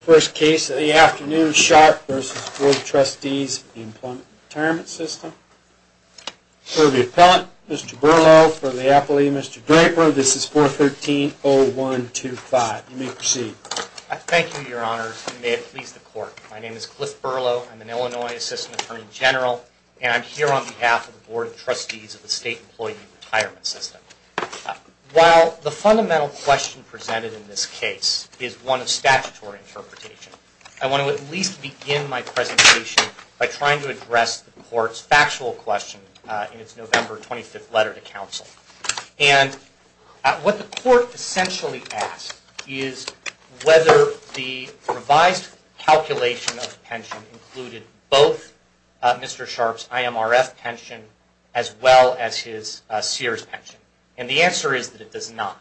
First case of the afternoon, Sharp v. Board of Trustees of the Employee's Retirement System. For the Appellant, Mr. Berlow. For the Appellee, Mr. Draper. This is 413-0125. You may proceed. Thank you, Your Honors, and may it please the Court. My name is Cliff Berlow. I'm an Illinois Assistant Attorney General, and I'm here on behalf of the Board of Trustees of the State Employee's Retirement System. While the fundamental question presented in this case is one of statutory interpretation, I want to at least begin my presentation by trying to address the Court's factual question in its November 25th letter to counsel. And what the Court essentially asks is whether the revised calculation of pension included both Mr. Sharp's IMRF pension as well as his Sears pension. And the answer is that it does not.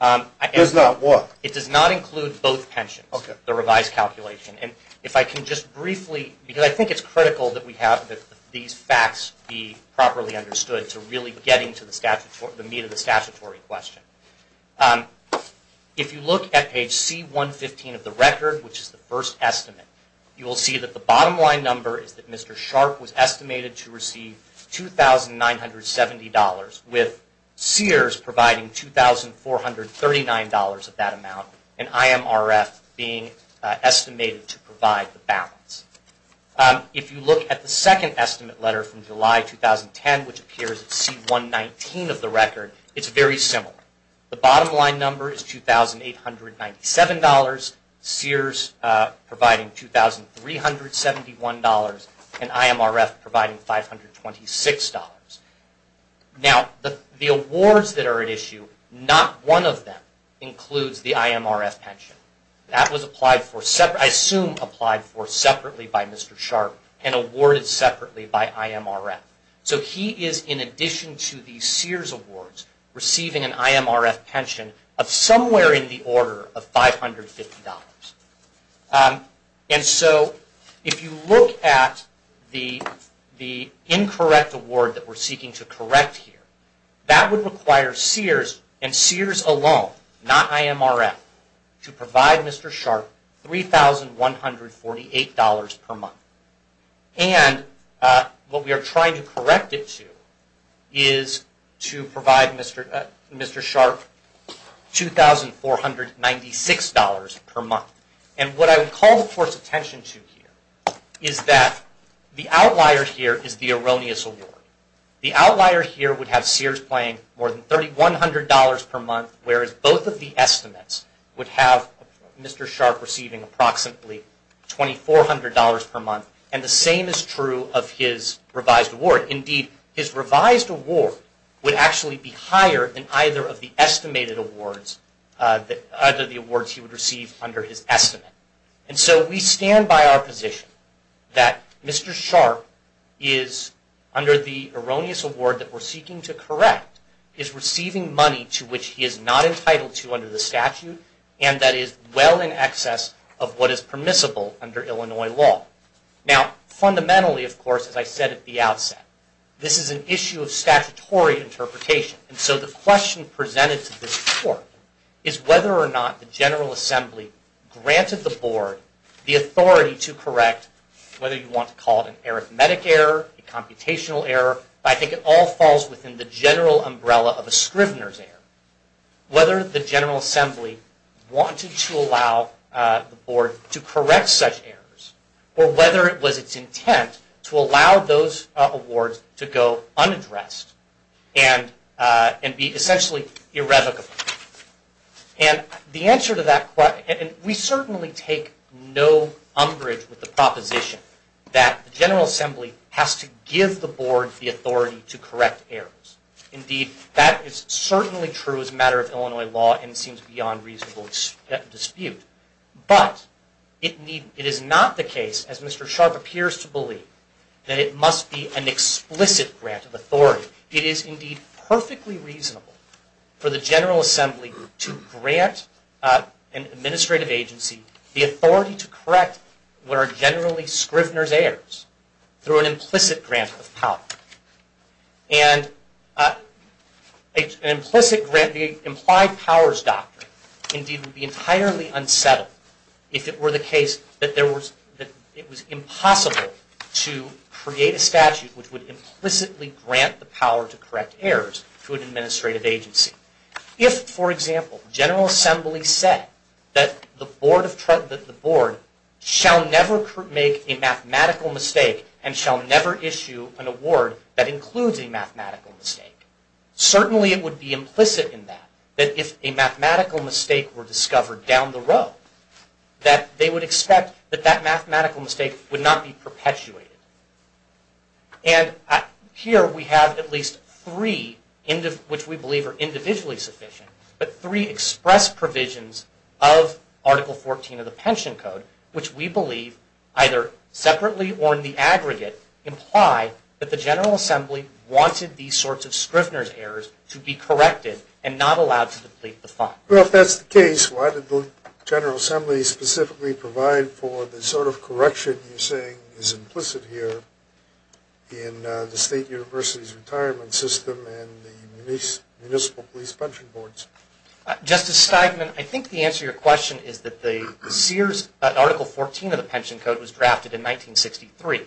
It does not what? It does not include both pensions, the revised calculation. And if I can just briefly, because I think it's critical that we have these facts be properly understood to really get into the meat of the statutory question. If you look at page C-115 of the record, which is the first estimate, you will see that the bottom line number is that Mr. Sharp was estimated to receive $2,970, with Sears providing $2,439 of that amount, and IMRF being estimated to provide the balance. If you look at the second estimate letter from July 2010, which appears at C-119 of the record, it's very similar. The bottom line number is $2,897, Sears providing $2,371, and IMRF providing $526. Now, the awards that are at issue, not one of them includes the IMRF pension. That was applied for, I assume applied for separately by Mr. Sharp and awarded separately by IMRF. So he is, in addition to the Sears awards, receiving an IMRF pension of somewhere in the order of $550. And so, if you look at the incorrect award that we're seeking to correct here, that would require Sears, and Sears alone, not IMRF, to provide Mr. Sharp $3,148 per month. And what we are trying to correct it to is to provide Mr. Sharp $2,496 per month. And what I would call the Court's attention to here is that the outlier here is the erroneous award. The outlier here would have Sears playing more than $3,100 per month, whereas both of the estimates would have Mr. Sharp receiving approximately $2,400 per month. And the same is true of his revised award. Indeed, his revised award would actually be higher than either of the estimated awards, either of the awards he would receive under his estimate. And so, we stand by our position that Mr. Sharp is, under the erroneous award that we're seeking to correct, is receiving money to which he is not entitled to under the statute, and that is well in excess of what is permissible under Illinois law. Now, fundamentally, of course, as I said at the outset, this is an issue of statutory interpretation. And so, the question presented to this Court is whether or not the General Assembly granted the Board the authority to correct, whether you want to call it an arithmetic error, a computational error, I think it all falls within the general umbrella of a Scrivener's error, whether the General Assembly wanted to allow the Board to correct such errors, or whether it was its intent to allow those awards to go unaddressed and be essentially irrevocable. And the answer to that question, and we certainly take no umbrage with the proposition that the General Assembly has to give the Board the authority to correct errors. Indeed, that is certainly true as a matter of Illinois law and seems beyond reasonable dispute. But, it is not the case, as Mr. Sharp appears to believe, that it must be an explicit grant of authority. It is indeed perfectly reasonable for the General Assembly to grant an administrative agency the authority to correct what are generally Scrivener's errors through an implicit grant of power. And an implicit grant, the implied powers doctrine, indeed would be entirely unsettled if it were the case that it was impossible to create a statute which would implicitly grant the power to correct errors to an administrative agency. If, for example, the General Assembly said that the Board shall never make a mathematical mistake and shall never issue an award that includes a mathematical mistake, certainly it would be implicit in that, that if a mathematical mistake were discovered down the road, that they would expect that that mathematical mistake would not be perpetuated. And here we have at least three, which we believe are individually sufficient, but three express provisions of Article 14 of the Pension Code, which we believe, either separately or in the aggregate, imply that the General Assembly wanted these sorts of Scrivener's errors to be corrected and not allowed to deplete the fund. Well, if that's the case, why did the General Assembly specifically provide for the sort of correction you're saying is implicit here in the State University's retirement system and the municipal police pension boards? Justice Steigman, I think the answer to your question is that the Sears Article 14 of the Pension Code was drafted in 1963,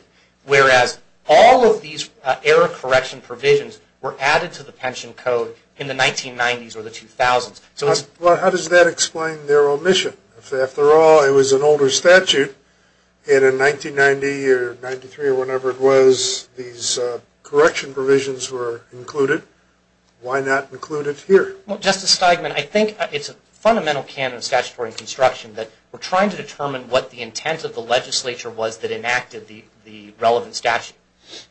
whereas all of these error correction provisions were added to the Pension Code in the 1990s or the 2000s. Well, how does that explain their omission? If after all, it was an older statute, and in 1990 or 93 or whenever it was, these correction provisions were included, why not include it here? Well, Justice Steigman, I think it's a fundamental canon of statutory construction that we're trying to determine what the intent of the legislature was that enacted the relevant statute.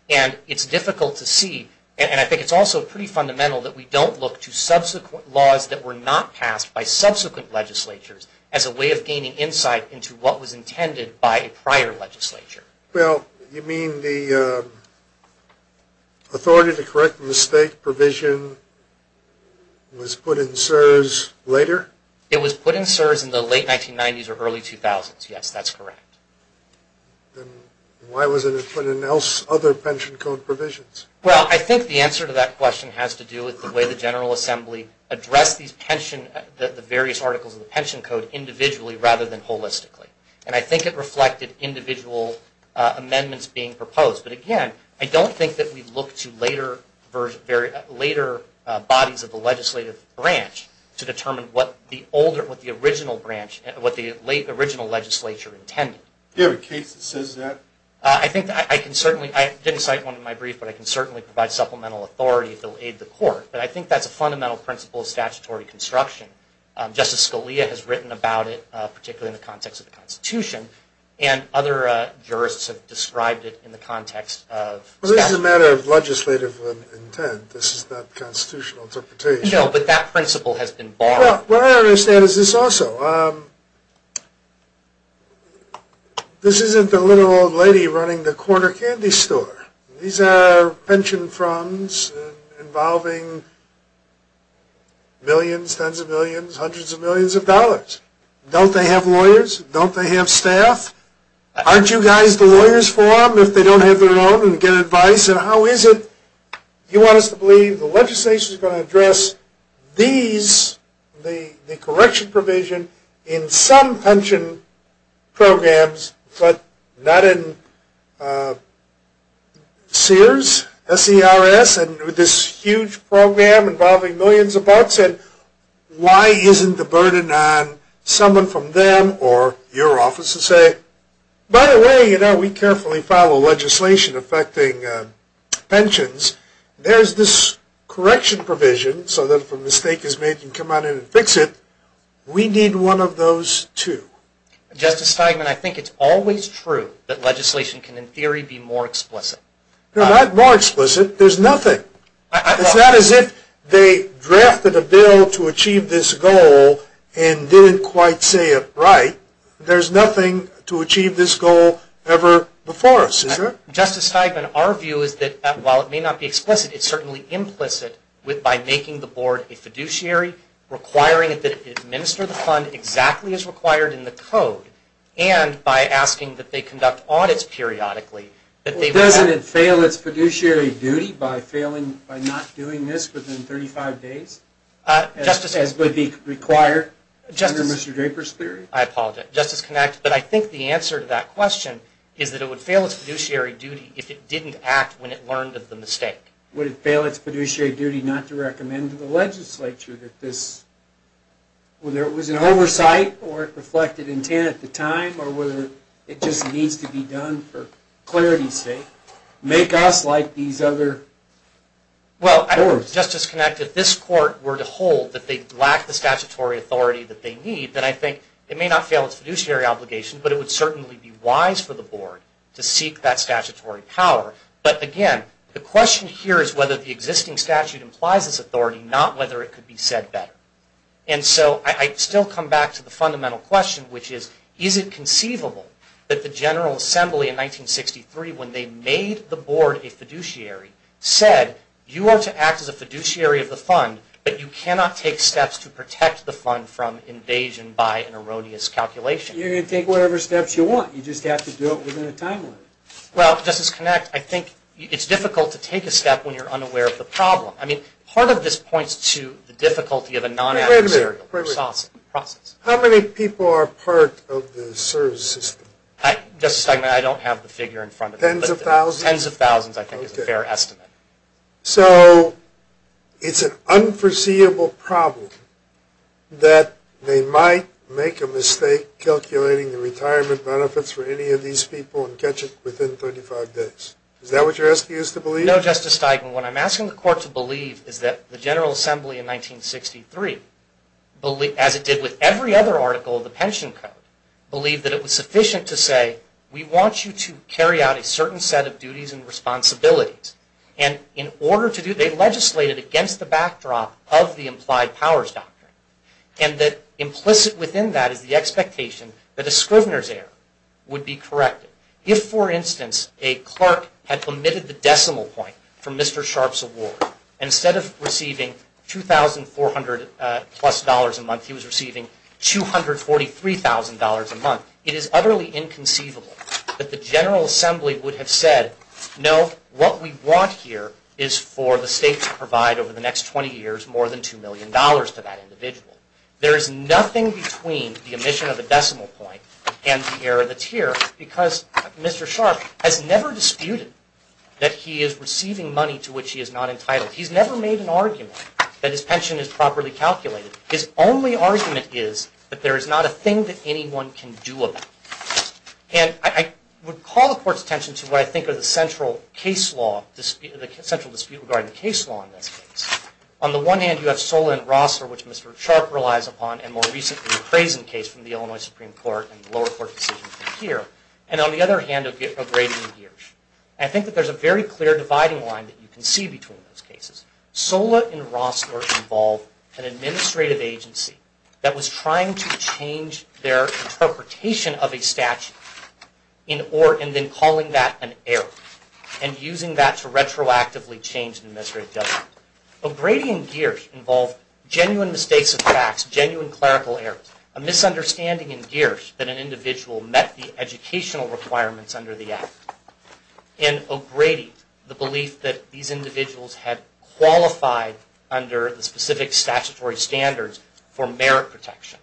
And it's difficult to see, and I think it's also pretty fundamental that we don't look to subsequent laws that were not passed by subsequent legislatures. As a way of gaining insight into what was intended by a prior legislature. Well, you mean the authority to correct the mistake provision was put in Sears later? It was put in Sears in the late 1990s or early 2000s, yes, that's correct. Then why wasn't it put in other Pension Code provisions? Well, I think the answer to that question has to do with the way the General Assembly addressed the various articles of the Pension Code individually rather than holistically. And I think it reflected individual amendments being proposed. But again, I don't think that we look to later bodies of the legislative branch to determine what the original branch, what the original legislature intended. Do you have a case that says that? I think I can certainly, I didn't cite one in my brief, but I think that's a fundamental principle of statutory construction. Justice Scalia has written about it, particularly in the context of the Constitution, and other jurists have described it in the context of... Well, this is a matter of legislative intent, this is not constitutional interpretation. No, but that principle has been borrowed. Well, what I understand is this also. This isn't the little old lady running the corner candy store. These are pension funds involving millions, tens of millions, hundreds of millions of dollars. Don't they have lawyers? Don't they have staff? Aren't you guys the lawyers for them if they don't have their own and get advice? And how is it you want us to believe the legislation is going to address these, the correction provision in some pension programs, but not in Sears, SERS, and this huge program involving millions of bucks, and why isn't the burden on someone from them or your office to say, by the way, you know, we carefully follow legislation affecting pensions. There's this correction provision so that if a mistake is made, you can come out and fix it. We need one of those, too. Justice Steigman, I think it's always true that legislation can, in theory, be more explicit. They're not more explicit. There's nothing. It's not as if they drafted a bill to achieve this goal and didn't quite say it right. There's nothing to achieve this goal ever before us, is there? Justice Steigman, our view is that while it may not be explicit, it's certainly implicit by making the board a fiduciary, requiring it to administer the fund exactly as required in the code, and by asking that they conduct audits periodically. Doesn't it fail its fiduciary duty by not doing this within 35 days, as would be required under Mr. Draper's theory? I apologize. But I think the answer to that question is that it would fail its fiduciary duty if it didn't act when it learned of the mistake. Would it fail its fiduciary duty not to recommend to the legislature that this, whether it was an oversight or it reflected intent at the time, or whether it just needs to be done for clarity's sake, make us like these other courts? Well, Justice Kinect, if this court were to hold that they lack the statutory authority that they need, then I think it may not fail its fiduciary obligation, but it would certainly be wise for the board to seek that statutory power. But again, the question here is whether the existing statute implies this authority, not whether it could be said better. And so I still come back to the fundamental question, which is, is it conceivable that the General Assembly in 1963, when they made the board a fiduciary, said, you are to act as a fiduciary of the fund, but you cannot take steps to protect the fund from invasion by an erroneous calculation? You're going to take whatever steps you want. You just have to do it within a timeline. Well, Justice Kinect, I think it's difficult to take a step when you're unaware of the problem. I mean, part of this points to the difficulty of a non-adversarial process. How many people are part of the service system? Justice Steinman, I don't have the figure in front of me. Tens of thousands? Tens of thousands, I think, is a fair estimate. So it's an unforeseeable problem that they might make a mistake calculating the retirement benefits for any of these people and catch it within 35 days. Is that what you're asking us to believe? No, Justice Steinman. What I'm asking the Court to believe is that the General Assembly in 1963, as it did with every other article of the Pension Code, believed that it was sufficient to say, we want you to carry out a certain set of duties and responsibilities. And in order to do that, they legislated against the backdrop of the implied powers doctrine. And that implicit within that is the expectation that a Scrivener's error would be corrected. If, for instance, a clerk had permitted the decimal point for Mr. Sharpe's award, instead of receiving $2,400 plus a month, he was receiving $243,000 a month. It is utterly inconceivable that the General Assembly would have said, no, what we want here is for the state to provide over the next 20 years more than $2 million to that individual. There is nothing between the omission of the decimal point and the error that's here because Mr. Sharpe has never disputed that he is receiving money to which he is not entitled. He's never made an argument that his pension is properly calculated. His only argument is that there is not a thing that anyone can do about it. And I would call the Court's attention to what I think are the central case law, the central dispute regarding the case law in this case. On the one hand, you have Sola and Rossler, which Mr. Sharpe relies upon, and more recently the Crazen case from the Illinois Supreme Court and the lower court decision here. And on the other hand, O'Grady and Giersch. I think that there's a very clear dividing line that you can see between those cases. Sola and Rossler involved an administrative agency that was trying to change their interpretation of a statute and then calling that an error and using that to retroactively change the administrative judgment. O'Grady and Giersch involved genuine mistakes of facts, genuine clerical errors, a misunderstanding in Giersch that an individual met the educational requirements under the Act. And O'Grady, the belief that these individuals had qualified under the specific statutory standards for merit protection.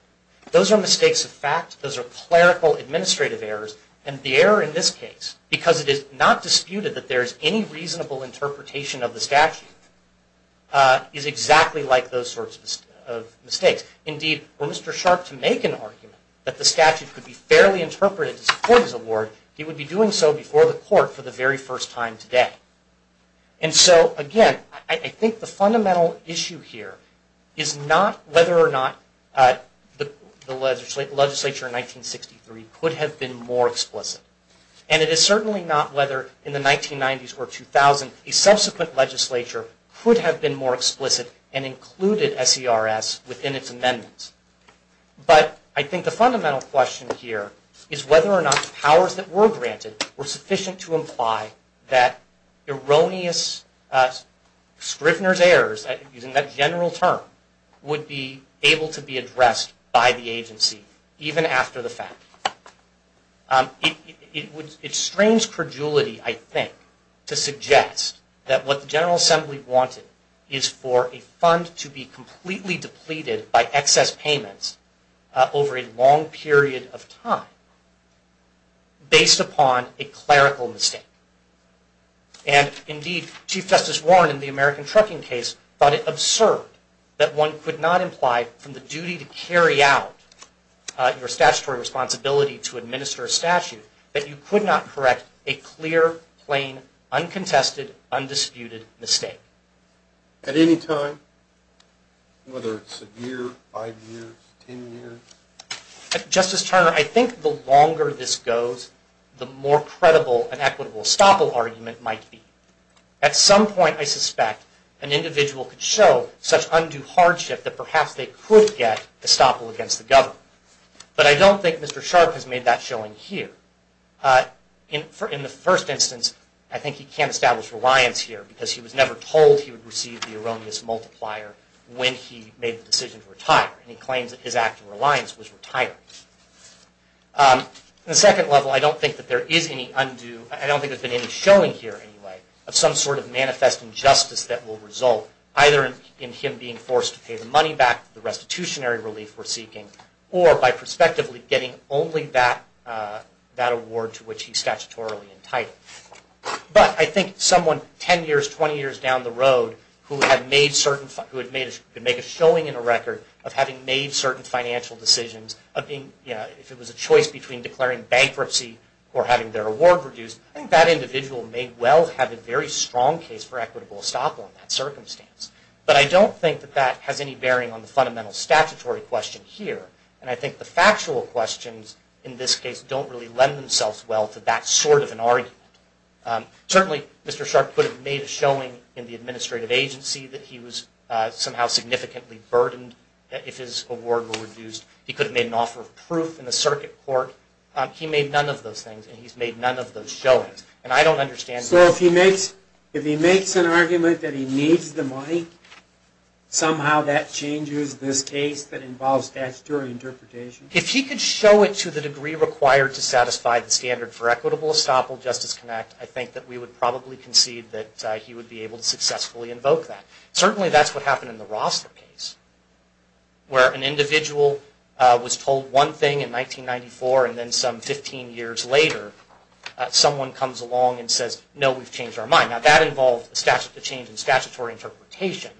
Those are mistakes of fact, those are clerical administrative errors, and the error in this case, because it is not disputed that there is any reasonable interpretation of the statute, is exactly like those sorts of mistakes. Indeed, for Mr. Sharpe to make an argument that the statute could be fairly interpreted to support his award, he would be doing so before the Court for the very first time today. And so, again, I think the fundamental issue here is not whether or not the legislature in 1963 could have been more explicit. And it is certainly not whether in the 1990s or 2000 a subsequent legislature could have been more explicit and included SERS within its amendments. But I think the fundamental question here is whether or not the powers that were granted were sufficient to imply that erroneous Scrivener's errors, using that general term, would be able to be addressed by the agency, even after the fact. It strains credulity, I think, to suggest that what the General Assembly wanted is for a fund to be completely depleted by excess payments over a long period of time based upon a clerical mistake. And, indeed, Chief Justice Warren in the American Trucking case thought it absurd that one could not imply from the duty to carry out your statutory responsibility to administer a statute that you could not correct a clear, plain, uncontested, undisputed mistake. At any time, whether it's a year, five years, ten years? Justice Turner, I think the longer this goes, the more credible an equitable estoppel argument might be. At some point, I suspect, an individual could show such undue hardship that perhaps they could get estoppel against the government. But I don't think Mr. Sharp has made that showing here. In the first instance, I think he can't establish reliance here, because he was never told he would receive the erroneous multiplier when he made the decision to retire. And he claims that his act of reliance was retired. In the second level, I don't think there's been any showing here, anyway, of some sort of manifest injustice that will result, either in him being forced to pay the money back the restitutionary relief we're seeking, or by prospectively getting only that award to which he's statutorily entitled. But I think someone ten years, twenty years down the road who had made a showing in a record of having made certain financial decisions, if it was a choice between declaring bankruptcy or having their award reduced, I think that individual may well have a very strong case for equitable estoppel in that circumstance. But I don't think that that has any bearing on the fundamental statutory question here. And I think the factual questions in this case don't really lend themselves well to that sort of an argument. Certainly, Mr. Sharp could have made a showing in the administrative agency that he was somehow significantly burdened if his award were reduced. He could have made an offer of proof in the circuit court. He made none of those things, and he's made none of those showings. And I don't understand... So, if he makes an argument that he needs the money, somehow that changes this case that involves statutory interpretation? If he could show it to the degree required to satisfy the standard for equitable estoppel, Justice Connect, I think that we would probably concede that he would be able to successfully invoke that. Certainly, that's what happened in the Roster case, where an individual was told one thing in 1994, and then some 15 years later, someone comes along and says, no, we've changed our mind. Now, that involved a change in statutory interpretation,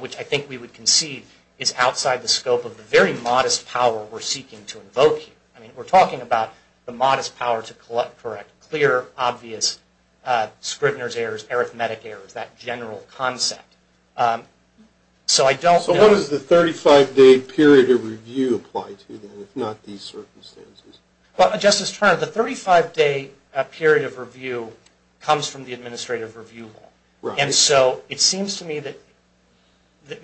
which I think we would concede is outside the scope of the very modest power we're seeking to invoke here. I mean, we're talking about the modest power to collect correct, clear, obvious, Scrivener's errors, arithmetic errors, that general concept. So, I don't know... So, what does the 35-day period of review apply to, then, if not these circumstances? Well, Justice Turner, the 35-day period of review comes from the administrative review law. And so, it seems to me that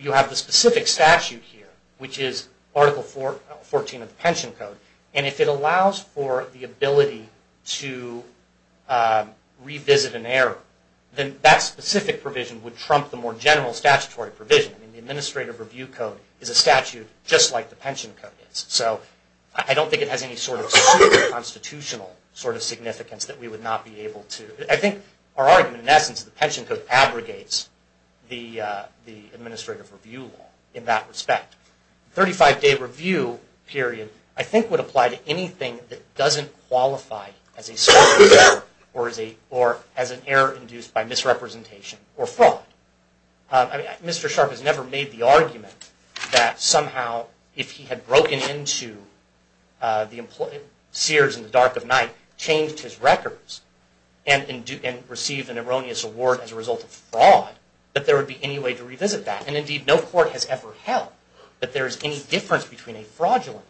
you have the specific statute here, which is Article 14 of the Pension Code. And if it allows for the ability to revisit an error, then that specific provision would trump the more general statutory provision. I mean, the Administrative Review Code is a statute just like the Pension Code is. So, I don't think it has any sort of constitutional sort of significance that we would not be able to... I think our argument, in essence, is the Pension Code abrogates the Administrative Review Law in that respect. The 35-day review period, I think, would apply to anything that doesn't qualify as a Scrivener's error or as an error induced by misrepresentation or fraud. I mean, Mr. Sharpe has never made the argument that somehow, if he had broken into the Sears in the dark of night, changed his records, and received an erroneous award as a result, that there's any difference between a fraudulent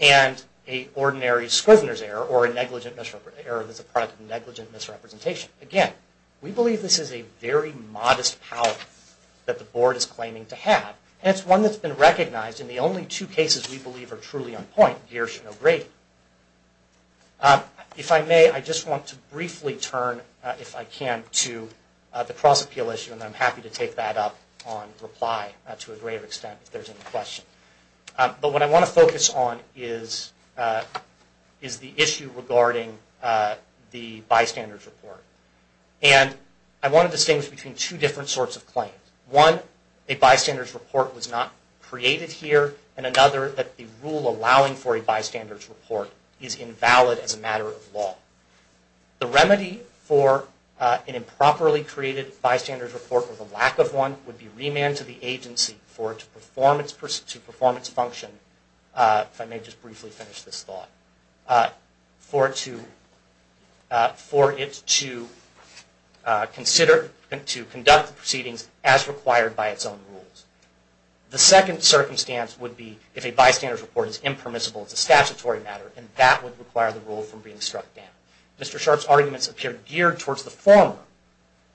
error and an ordinary Scrivener's error or an error that's a product of negligent misrepresentation. Again, we believe this is a very modest power that the Board is claiming to have. And it's one that's been recognized. And the only two cases we believe are truly on point here should know great. If I may, I just want to briefly turn, if I can, to the cross-appeal issue. And I'm happy to take that up on reply to a greater extent if there's any questions. But what I want to focus on is the issue regarding the Bystanders Report. And I want to distinguish between two different sorts of claims. One, a Bystanders Report was not created here. And another, that the rule allowing for a Bystanders Report is invalid as a matter of law. The remedy for an improperly created Bystanders Report, or the lack of one, would be remand to the agency for it to perform its function, if I may just briefly finish this thought, for it to conduct the proceedings as required by its own rules. The second claim is that the Bystanders Report does not require the rule for being struck down. Mr. Sharp's arguments appear geared towards the former,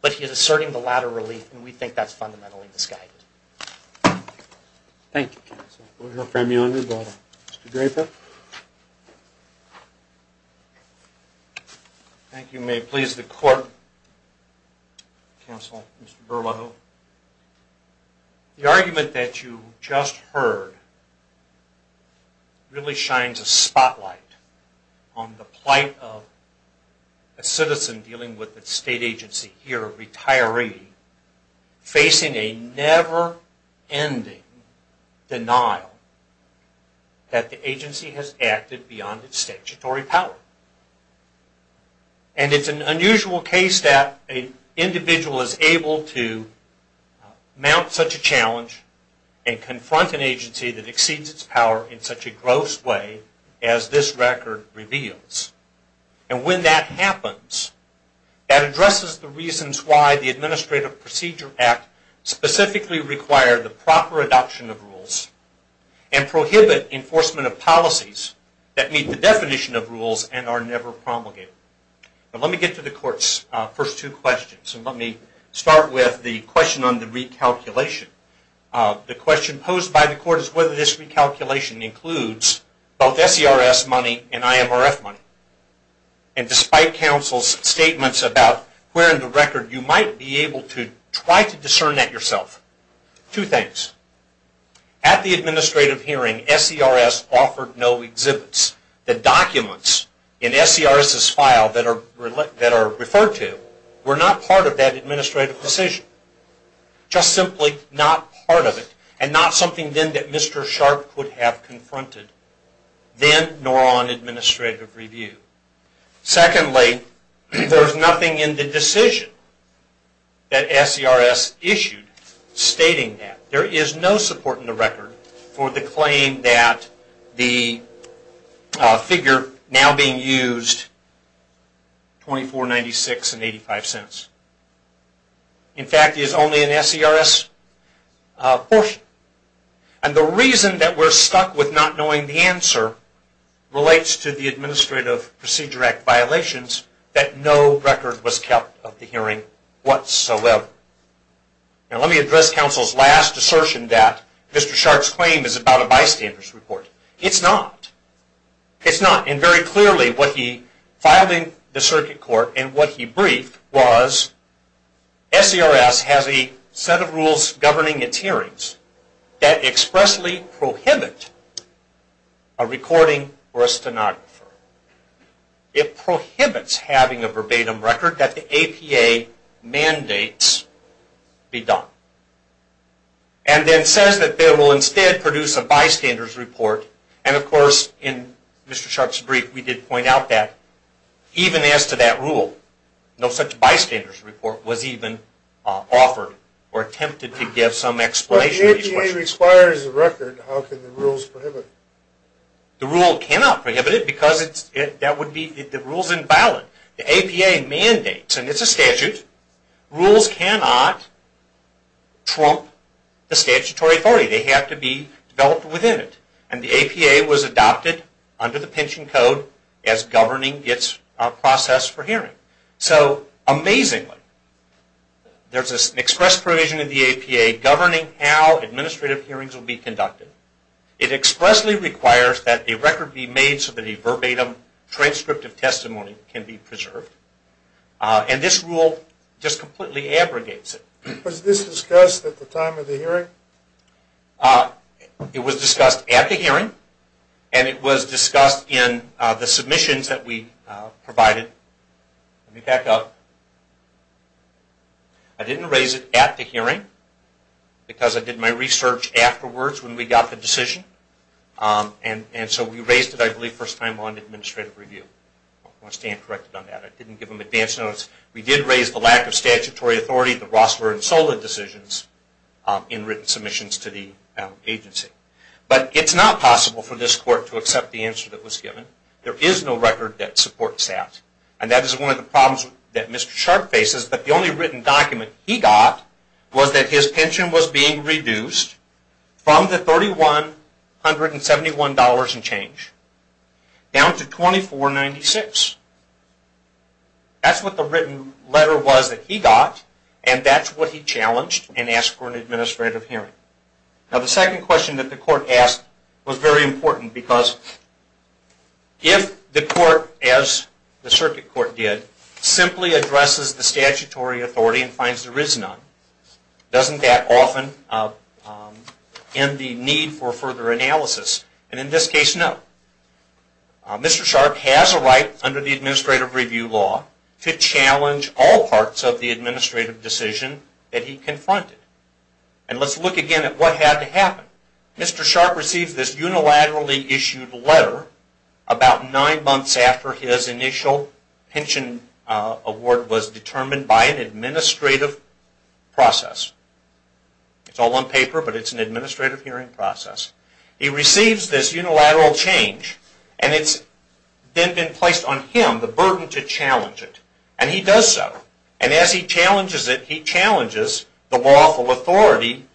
but he is asserting the latter relief, and we think that's fundamentally misguided. Thank you. Mr. Draper. Thank you. May it please the Court, Counsel, Mr. Berlo. The argument that you just heard really shines a spotlight on the plight of a citizen dealing with the state agency here, a retiree, facing a never-ending denial that the agency has acted beyond its statutory power. And it's an unusual case that an individual is able to mount such a challenge and confront an agency that exceeds its power in such a gross way as this record reveals. And when that happens, that addresses the reasons why the Administrative Procedure Act specifically required the proper adoption of rules and prohibit enforcement of policies that meet the definition of rules and are never promulgated. Now let me get to the Court's first two questions, and let me start with the question on the recalculation. The question posed by the Court is whether this recalculation includes both SERS money and IMRF money. And despite Counsel's statements about where in the record you might be at yourself, two things. At the administrative hearing, SERS offered no exhibits. The documents in SERS's file that are referred to were not part of that administrative decision. Just simply not part of it, and not something then that Mr. Sharp could have confronted then nor on administrative review. Secondly, there is nothing in the decision that SERS issued stating that. There is no support in the record for the claim that the figure now being used is $24.96.85. In fact, it is only an SERS portion. And the reason that we are stuck with not knowing the answer relates to the Administrative Procedure Act violations that no record was kept of the hearing whatsoever. Now let me address Counsel's last assertion that Mr. Sharp's claim is about a bystander's report. It's not. It's not. And very clearly what he filed in the Circuit Court and what he briefed was SERS has a set of rules governing its hearings that expressly prohibit a recording for a stenographer. It prohibits having a verbatim record that the APA mandates be done. And then says that they will instead produce a bystander's report and of course in Mr. Sharp's brief we did point out that even as to that But if the APA requires a record, how can the rules prohibit it? The rule cannot prohibit it because the rule is invalid. The APA mandates and it's a statute. Rules cannot trump the statutory authority. They have to be developed within it. And the APA was adopted under the Pension Code as governing its process for the APA governing how administrative hearings will be conducted. It expressly requires that a record be made so that a verbatim transcript of testimony can be preserved. And this rule just completely abrogates it. Was this discussed at the time of the hearing? It was discussed at the hearing and it was discussed in the submissions that we provided. Let me back up. I didn't raise it at the hearing because I did my research afterwards when we got the decision. And so we raised it I believe first time on administrative review. I want to stand corrected on that. I didn't give them advance notice. We did raise the lack of statutory authority, the Rossler and Sola decisions in written submissions to the agency. But it's not possible for this court to accept the answer that was given. There is no record that supports that. And that is one of the problems that Mr. Sharp faces. But the only written document he got was that his pension was being reduced from the $3171 in change down to $2496. That's what the written letter was that he got and that's what he challenged and asked for an administrative hearing. Now the second question that the court asked was very important because if the court, as the circuit court did, simply addresses the statutory authority and finds there is none, doesn't that often end the need for further analysis? And in this case, no. Mr. Sharp has a right under the administrative review law to challenge all parts of the administrative decision that he confronted. And let's look again at what had to happen. Mr. Sharp receives this unilaterally issued letter about nine months after his initial pension award was determined by an administrative process. It's all on paper, but it's an administrative hearing process. He receives this and has the burden to challenge it. And he does so. And as he challenges it, he challenges the lawful authority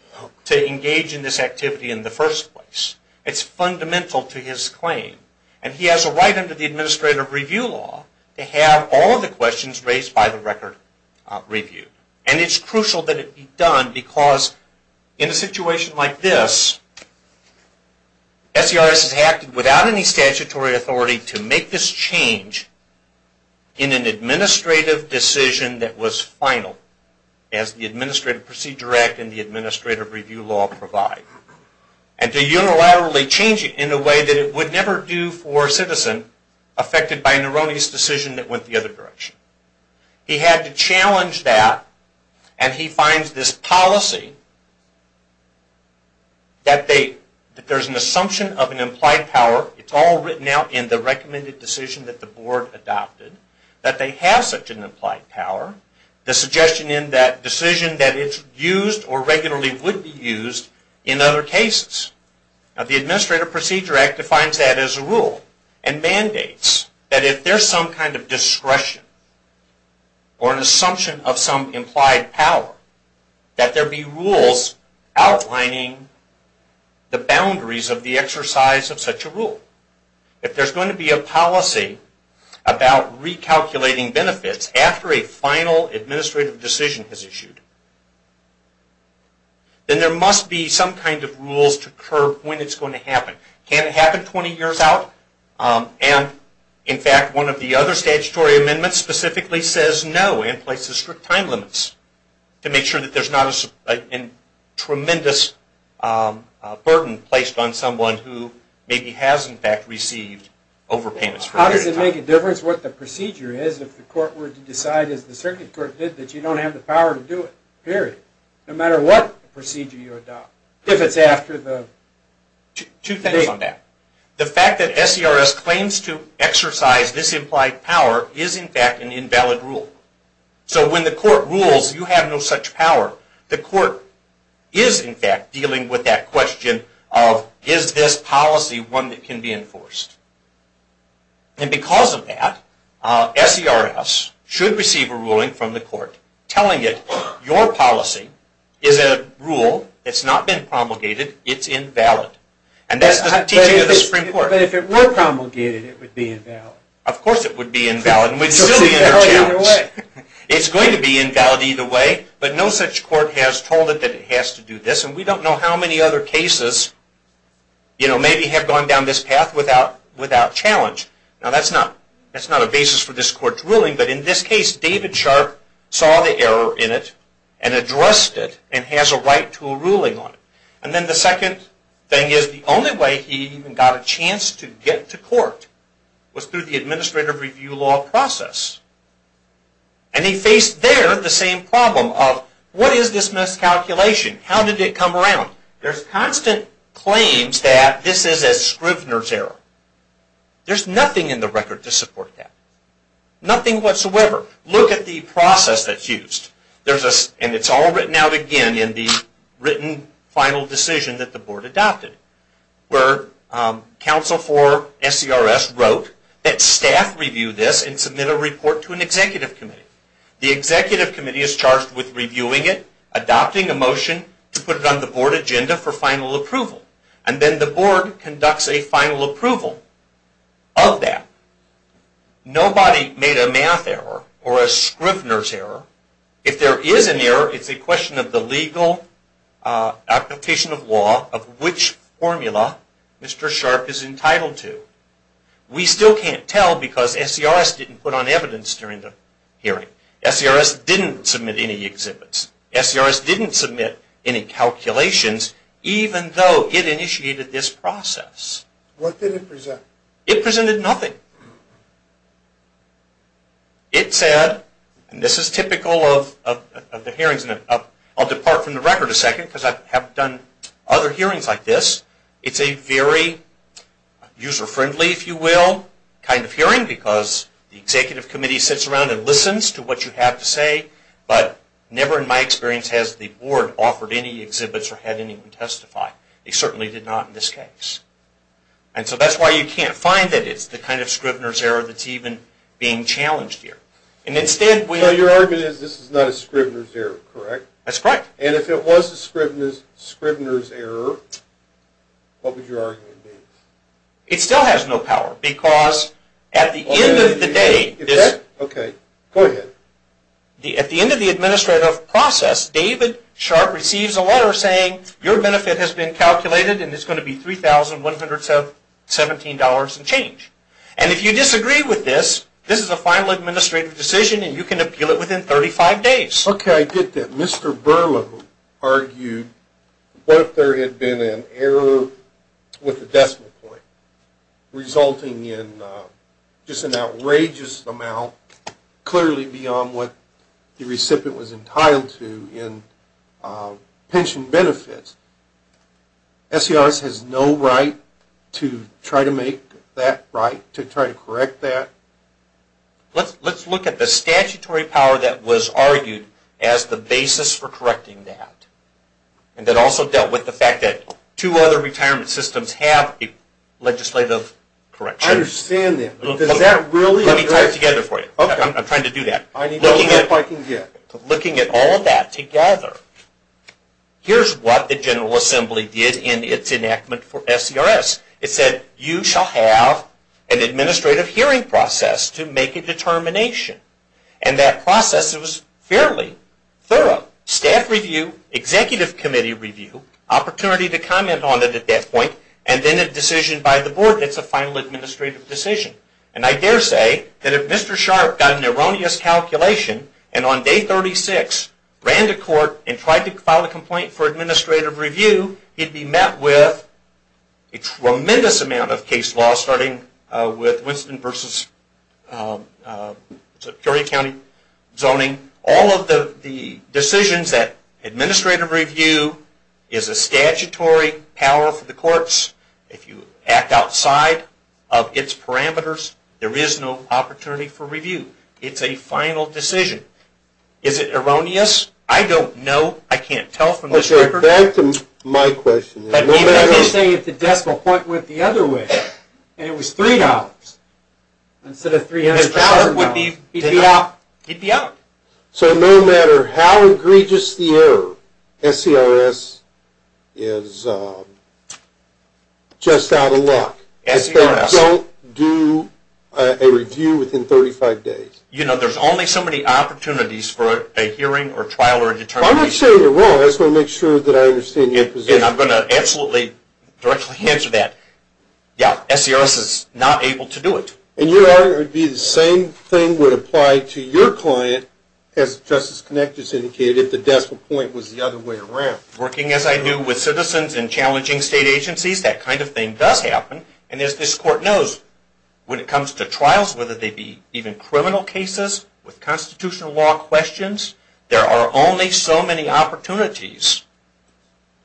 to engage in this activity in the first place. It's fundamental to his claim. And he has a right under the administrative review law to have all of the questions raised by the record reviewed. And it's crucial that it be done because in a situation like this, SERS has acted without any statutory authority to make this change in an administrative decision that was final, as the Administrative Procedure Act and the Administrative Review Law provide. And to unilaterally change it in a way that it would never do for a citizen affected by Nerone's decision that went the other direction. He had to challenge that and he finds this policy that there's an assumption of an implied power. It's all written out in the recommended decision that the board adopted. That they have such an implied power. The suggestion in that decision that it's used or regularly would be used in other cases. The Administrative Procedure Act defines that as a rule and mandates that if there's some kind of discretion or an assumption of some implied power, that there be rules outlining the boundaries of the exercise of such a rule. If there's going to be a policy about recalculating benefits after a final administrative decision is issued, then there must be some kind of rules to curb when it's going to happen. Can it happen 20 years out? In fact, one of the other statutory amendments specifically says no and places strict time limits to make sure that there's not a tremendous burden placed on someone who maybe has in fact received overpayments. How does it make a difference what the procedure is if the court were to decide, as the circuit court did, that you don't have the Two things on that. The fact that SERS claims to exercise this implied power is in fact an invalid rule. So when the court rules you have no such power, the court is in fact dealing with that question of is this policy one that can be enforced. Because of that, SERS should receive a ruling from the court telling it your policy is a rule that's not been promulgated, it's invalid. And that's the teaching of the Supreme Court. But if it were promulgated, it would be invalid. Of course it would be invalid and would still be under challenge. It's going to be invalid either way, but no such court has told it that it has to do this and we don't know how many other cases maybe have gone down this path without challenge. Now that's not a basis for this court's ruling, but in this case David Sharp saw the error in it and addressed it and has a right to a ruling on it. And then the second thing is the only way he even got a chance to get to court was through the administrative review law process. And he faced there the same problem of what is this miscalculation? How did it come around? There's constant claims that this is a Scrivner's error. There's nothing in the record to support that. Nothing whatsoever. Look at the process that's used. And it's all written out again in the written final decision that the board adopted where counsel for SERS wrote that staff review this and submit a report to an executive committee. The executive committee is charged with reviewing it, adopting a motion to put it on the board agenda for final approval. And then the board conducts a final approval of that. Nobody made a math error or a Scrivner's error. If there is an error, it's a question of the legal application of law of which formula Mr. Sharp is entitled to. We still can't tell because SERS didn't put on evidence during the hearing. SERS didn't submit any exhibits. SERS didn't submit any calculations even though it initiated this process. What did it present? It presented nothing. It said, and this is typical of the hearings, and I'll depart from the record a second because I have done other hearings like this, it's a very user-friendly, if you will, kind of hearing because the executive committee sits around and listens to what you have to say, but never in my experience has the board offered any exhibits or had anyone testify. They certainly did not in this case. And so that's why you can't find that it's the kind of Scrivner's error that's even being challenged here. So your argument is this is not a Scrivner's error, correct? That's correct. And if it was a Scrivner's error, what would your argument be? It still has no power because at the end of the day at the end of the administrative process David Sharp receives a letter saying your benefit has been calculated and it's going to be $3,117 and change. And if you disagree with this, this is a final administrative decision and you can appeal it within 35 days. Okay, I get that. Mr. Berlow argued what if there had been an error with the decimal point resulting in just an outrageous amount clearly beyond what the recipient was entitled to in pension benefits. SCRS has no right to try to make that right, to try to correct that. Let's look at the statutory power that was argued as the basis for correcting that. And that also dealt with the fact that two other retirement systems have a legislative correction. I understand that, but does that really Let me tie it together for you. I'm trying to do that. Looking at all of that together here's what the General Assembly did in its enactment for SCRS. It said you shall have an administrative hearing process to make a determination. And that process was fairly thorough. Staff review, executive committee review, opportunity to comment on it at that point, and then a decision by the board that's a final administrative decision. And I dare say that if Mr. Sharp got an erroneous calculation and on day 36 ran to court and tried to file a complaint for administrative review, he'd be met with a tremendous amount of case law starting with Winston v. Superior County zoning. All of the decisions that administrative review is a statutory power for the courts. If you it's a final decision. Is it erroneous? I don't know. I can't tell from this record. Back to my question. Let me say if the decimal point went the other way and it was $3 instead of $300,000. He'd be out. So no matter how egregious the error, SCRS is just out of luck. Don't do a review within 35 days. You know, there's only so many opportunities for a hearing or trial or determination. I'm not saying you're wrong. I just want to make sure that I understand your position. And I'm going to absolutely directly answer that. Yeah, SCRS is not able to do it. And your argument would be the same thing would apply to your client as Justice Connect has indicated if the decimal point was the other way around. Working as I do with citizens and challenging state agencies, that kind of thing does happen. And as this court knows, when it comes to trials, whether they be even criminal cases with constitutional law questions, there are only so many opportunities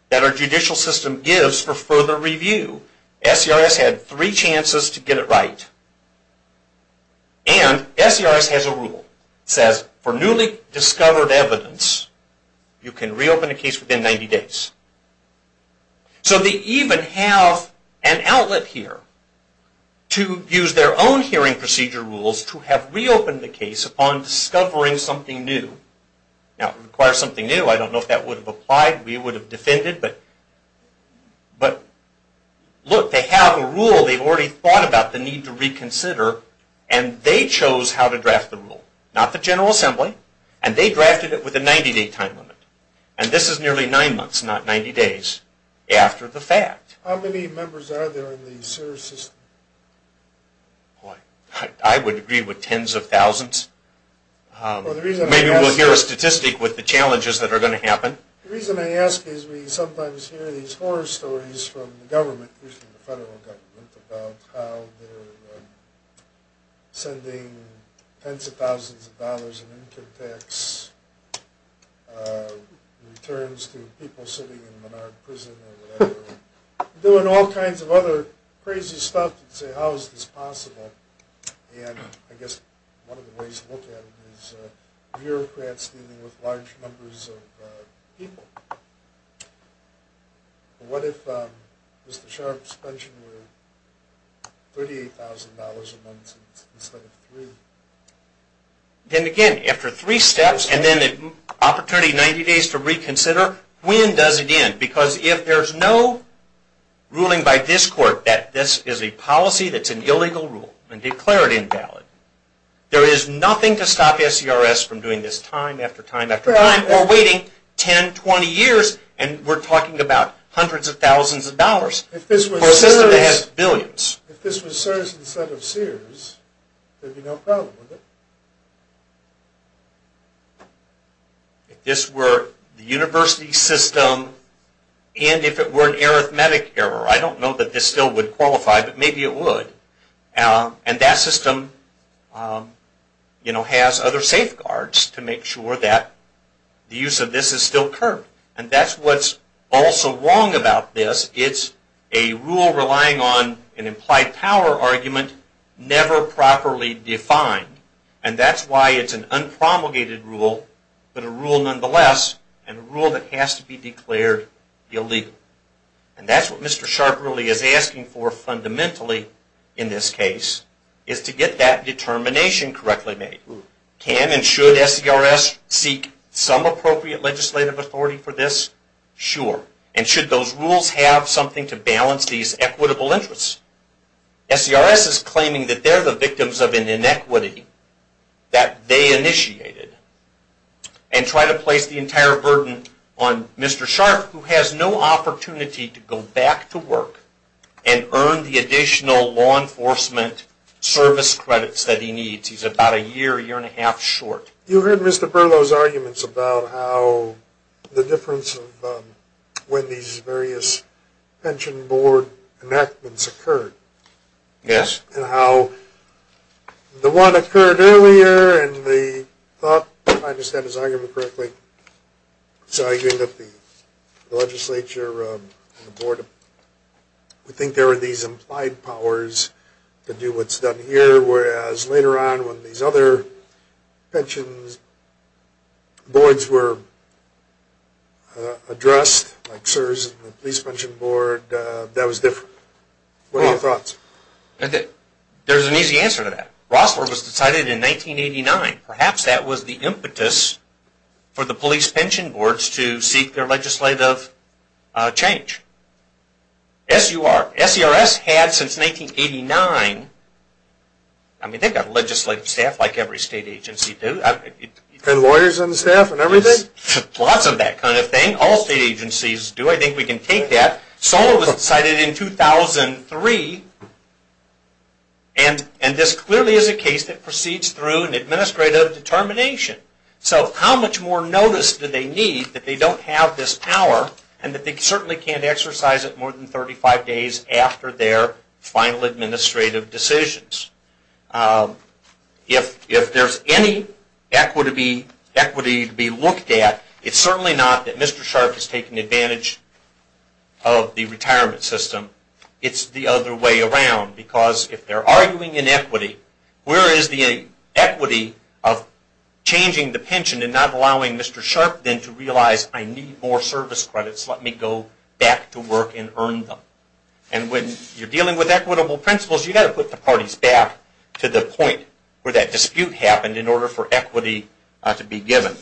that our judicial system gives for further review. SCRS had three chances to get it right. And SCRS has a rule that says for newly discovered evidence, you can reopen a case within 90 days. So they even have an outlet here to use their own hearing procedure rules to have reopened the case upon discovering something new. Now it would require something new. I don't know if that would have applied. We would have defended. But look, they have a rule. They've already thought about the need to reconsider. And they chose how to draft the rule. Not the General Assembly. And they drafted it with a 90-day time limit. And this is nearly nine months, not 90 days, after the fact. How many members are there in the SCRS system? I would agree with tens of thousands. Maybe we'll hear a statistic with the challenges that are going to happen. The reason I ask is we sometimes hear these horror stories from the government, usually the federal government, about how they're sending tens of thousands of dollars in income tax returns to people sitting in Menard prison or whatever. Doing all kinds of other crazy stuff to say, how is this possible? And I guess one of the ways to look at it is bureaucrats dealing with large numbers of people. What if Mr. Sharpe's pension were $38,000 a month instead of three? Then again, after three steps and then the opportunity 90 days to reconsider, when does it end? Because if there's no ruling by this court that this is a policy that's an illegal rule and declared invalid, there is nothing to stop SCRS from doing this time after time after time or waiting 10, 20 years. And we're talking about hundreds of thousands of dollars for a system that has billions. If this was CSRS instead of Sears, there'd be no problem with it. If this were the university system and if it were an arithmetic error, I don't know that this still would qualify, but maybe it would. And that system has other safeguards to make sure that the use of this is still curbed. And that's what's also wrong about this. It's a rule relying on an implied power argument never properly defined. And that's why it's an illegal rule. And that's what Mr. Sharpe really is asking for fundamentally in this case, is to get that determination correctly made. Can and should SCRS seek some appropriate legislative authority for this? Sure. And should those rules have something to balance these equitable interests? SCRS is claiming that they're the victims of an inequity that they initiated and try to place the entire burden on Mr. Sharpe who has no opportunity to go back to work and earn the additional law enforcement service credits that he needs. He's about a year, year and a half short. You heard Mr. Berlow's arguments about how the difference of when these various pension board enactments occurred. Yes. And how the one occurred earlier and the thought, if I understand his argument correctly, it's arguing that the legislature and the board would think there were these implied powers to do what's done here, whereas later on when these other pensions boards were addressed, like CSRS and the police pension board, that was different. What are your thoughts? There's an easy answer to that. Rossler was decided in 1989. Perhaps that was the impetus for the police pension boards to seek their legislative change. SUR, SCRS had since 1989, I mean they've got legislative staff like every state agency do. And lawyers on the staff and everything? Lots of that kind of thing. All state agencies do. I think we can take that. SOR was decided in 2003 and this clearly is a case that proceeds through an administrative determination. So how much more notice do they need that they don't have this power and that they certainly can't exercise it more than 35 days after their final administrative decisions? If there's any equity to be looked at, it's certainly not that Mr. Sharp is taking advantage of the retirement system. It's the other way around because if they're arguing inequity, where is the equity of changing the pension and not allowing Mr. Sharp then to realize I need more service credits, let me go back to work and earn them. And when you're dealing with equitable principles, you've got to put the parties back to the point where that dispute happened in order for equity to be given.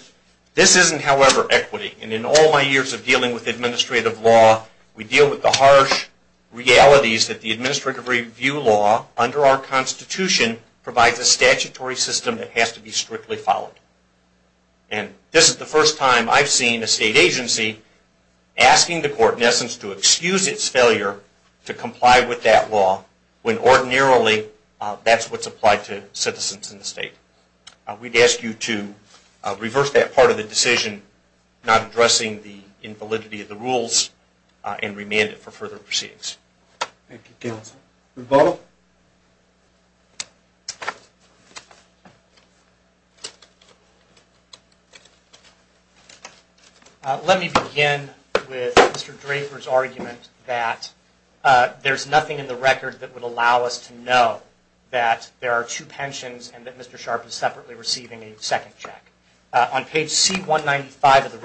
This isn't, however, equity. And in all my years of dealing with administrative law, we deal with the harsh realities that the administrative review law under our Constitution provides a statutory system that has to be strictly followed. And this is the first time I've seen a state agency asking the court, in essence, to excuse its failure to comply with that law when ordinarily that's what's applied to citizens in the state. We'd ask you to reverse that part of the decision, not addressing the invalidity of the rules and remand it for further proceedings. Thank you. Let me begin with Mr. Draper's argument that there's nothing in the record that would allow us to know that there are two pensions and that Mr. Sharp is separately receiving a second check. On page C-195 of the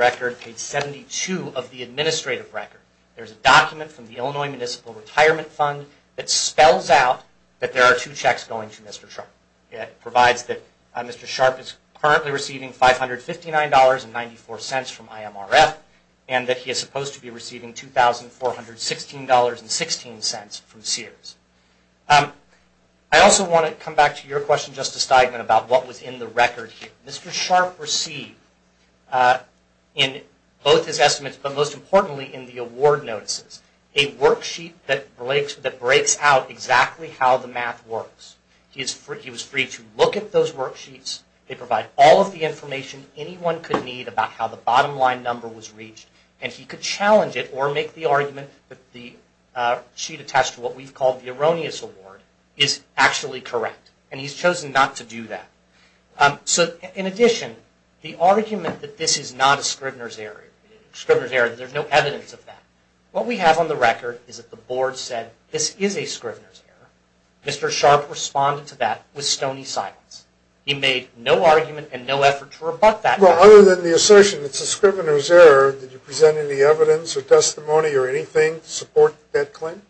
retirement fund, it spells out that there are two checks going to Mr. Sharp. It provides that Mr. Sharp is currently receiving $559.94 from IMRF and that he is supposed to be receiving $2,416.16 from Sears. I also want to come back to your question, Justice Steigman, about what was in the record here. Mr. Sharp received in both his estimates, but most importantly in the award notices, a worksheet that breaks out exactly how the math works. He was free to look at those worksheets. They provide all of the information anyone could need about how the bottom line number was reached and he could challenge it or make the argument that the sheet attached to what we've called the erroneous award is actually correct and he's chosen not to do that. In addition, the argument that this is not a Scrivener's error, there's no evidence of that. What we have on the record is that the Board said this is a Scrivener's error. Mr. Sharp responded to that with stony silence. He made no argument and no effort to rebut that. Other than the assertion it's a Scrivener's error, did you present any evidence or testimony or anything to support that claim?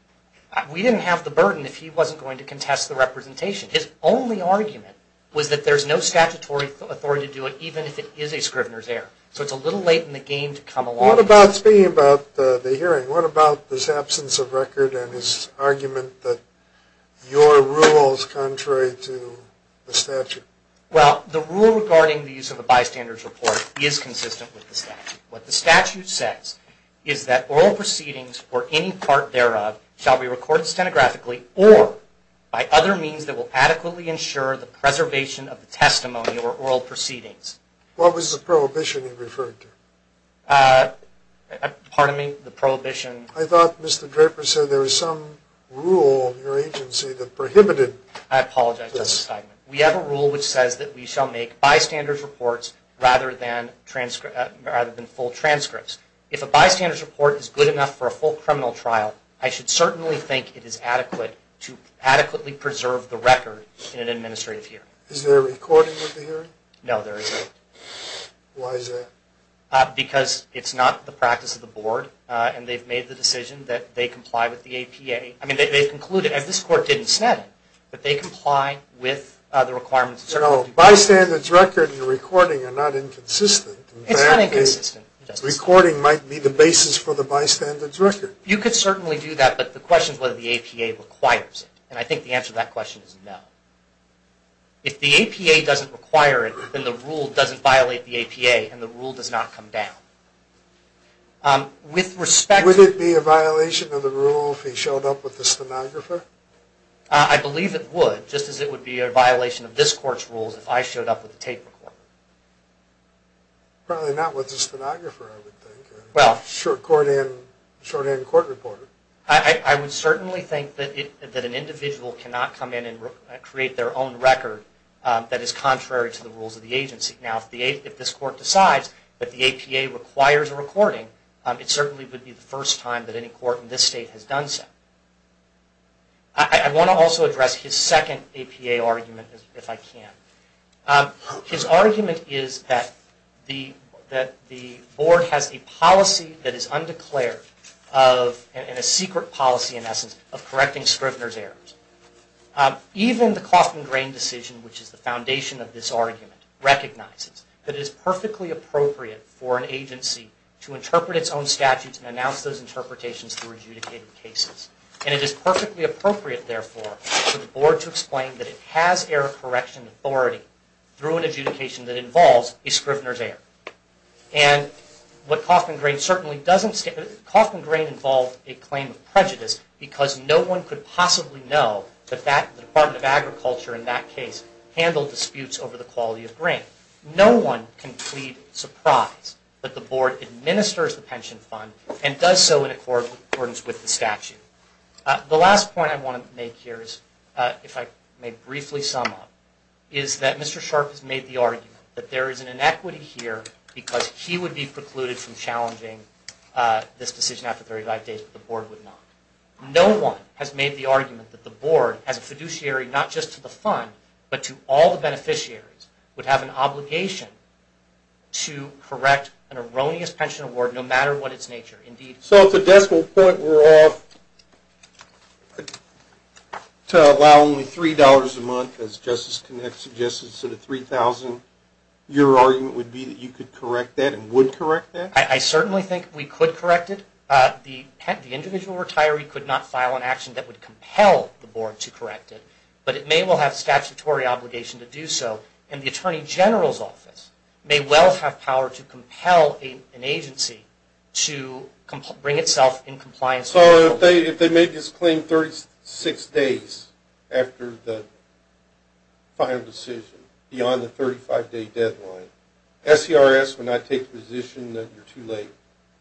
We didn't have the burden if he wasn't going to contest the representation. His only argument was that there's no statutory authority to do it even if it is a Scrivener's error. So it's a little late in the game to come along. Speaking about the hearing, what about his absence of record and his argument that your rule is contrary to the statute? Well, the rule regarding the use of a bystander's report is consistent with the statute. What the statute says is that oral proceedings or any part thereof shall be recorded stenographically or by other means that will adequately ensure the preservation of the testimony or oral proceedings. What was the prohibition he referred to? Pardon me? The prohibition? I thought Mr. Draper said there was some rule in your agency that prohibited... I apologize, we have a rule which says that we shall make bystander's reports rather than full transcripts. If a bystander's report is good enough for a full criminal trial, I should certainly think it is adequate to adequately preserve the record in an administrative hearing. Is there a recording of the hearing? No, there isn't. Why is that? Because it's not the practice of the board and they've made the decision that they comply with the requirements... No, bystander's record and recording are not inconsistent. It's not inconsistent. Recording might be the basis for the bystander's record. You could certainly do that, but the question is whether the APA requires it. And I think the answer to that question is no. If the APA doesn't require it, then the rule doesn't violate the APA and the rule does not come down. With respect to... Would it be a violation of this court's rules if I showed up with a tape recorder? Probably not with a stenographer, I would think. A short-hand court reporter. I would certainly think that an individual cannot come in and create their own record that is contrary to the rules of the agency. Now, if this court decides that the APA requires a recording, it certainly would be the first time that any court in this state has done so. I want to also address his second APA argument, if I can. His argument is that the board has a policy that is undeclared and a secret policy, in essence, of correcting Scrivner's errors. Even the Coffman-Drain decision, which is the foundation of this argument, recognizes that it is perfectly appropriate for an agency to interpret its own statutes and announce those interpretations through adjudicated cases. And it is perfectly appropriate, therefore, for the board to explain that it has error correction authority through an adjudication that involves a Scrivner's error. And what Coffman-Drain certainly doesn't... Coffman-Drain involved a claim of prejudice because no one could possibly know that the Department of Agriculture in that case handled disputes over the quality of grain. No one can plead surprise that the board administers the pension fund and does so in accordance with the statute. The last point I want to make here is, if I may briefly sum up, is that Mr. Sharp has made the argument that there is an inequity here because he would be precluded from challenging this decision after 35 days, but the board would not. No one has made the argument that the board, as a fiduciary not just to the fund, but to all the beneficiaries, would have an obligation to correct an erroneous pension award no matter what its nature. Indeed... So it's a decimal point. We're off to allow only $3 a month as Justice Connett suggested. So the 3,000-year argument would be that you could correct that and would correct that? I certainly think we could correct it. The individual retiree could not file an action that would compel the board to correct it, but it may well have statutory obligation to do so, and the Attorney General's office may well have power to compel an agency to bring itself in compliance... So if they made this claim 36 days after the final decision, beyond the 35-day deadline, SCRS would not take the position that you're too late?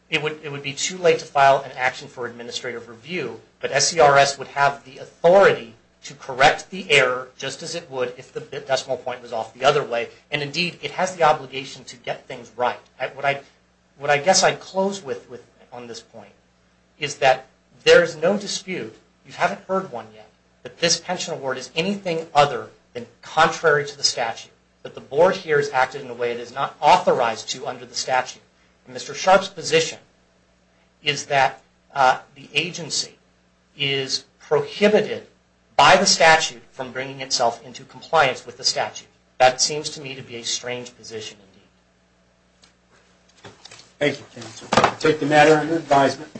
It would be too late to file an action for administrative review, but SCRS would have the authority to correct the error just as it would if the decimal point was off the other way, and indeed it has the obligation to get things right. What I guess I'd close with on this point is that there is a position, contrary to the statute, that the board here has acted in a way it is not authorized to under the statute. Mr. Sharpe's position is that the agency is prohibited by the statute from bringing itself into compliance with the statute. That seems to me to be a strange position. Thank you. I take the matter under advisement.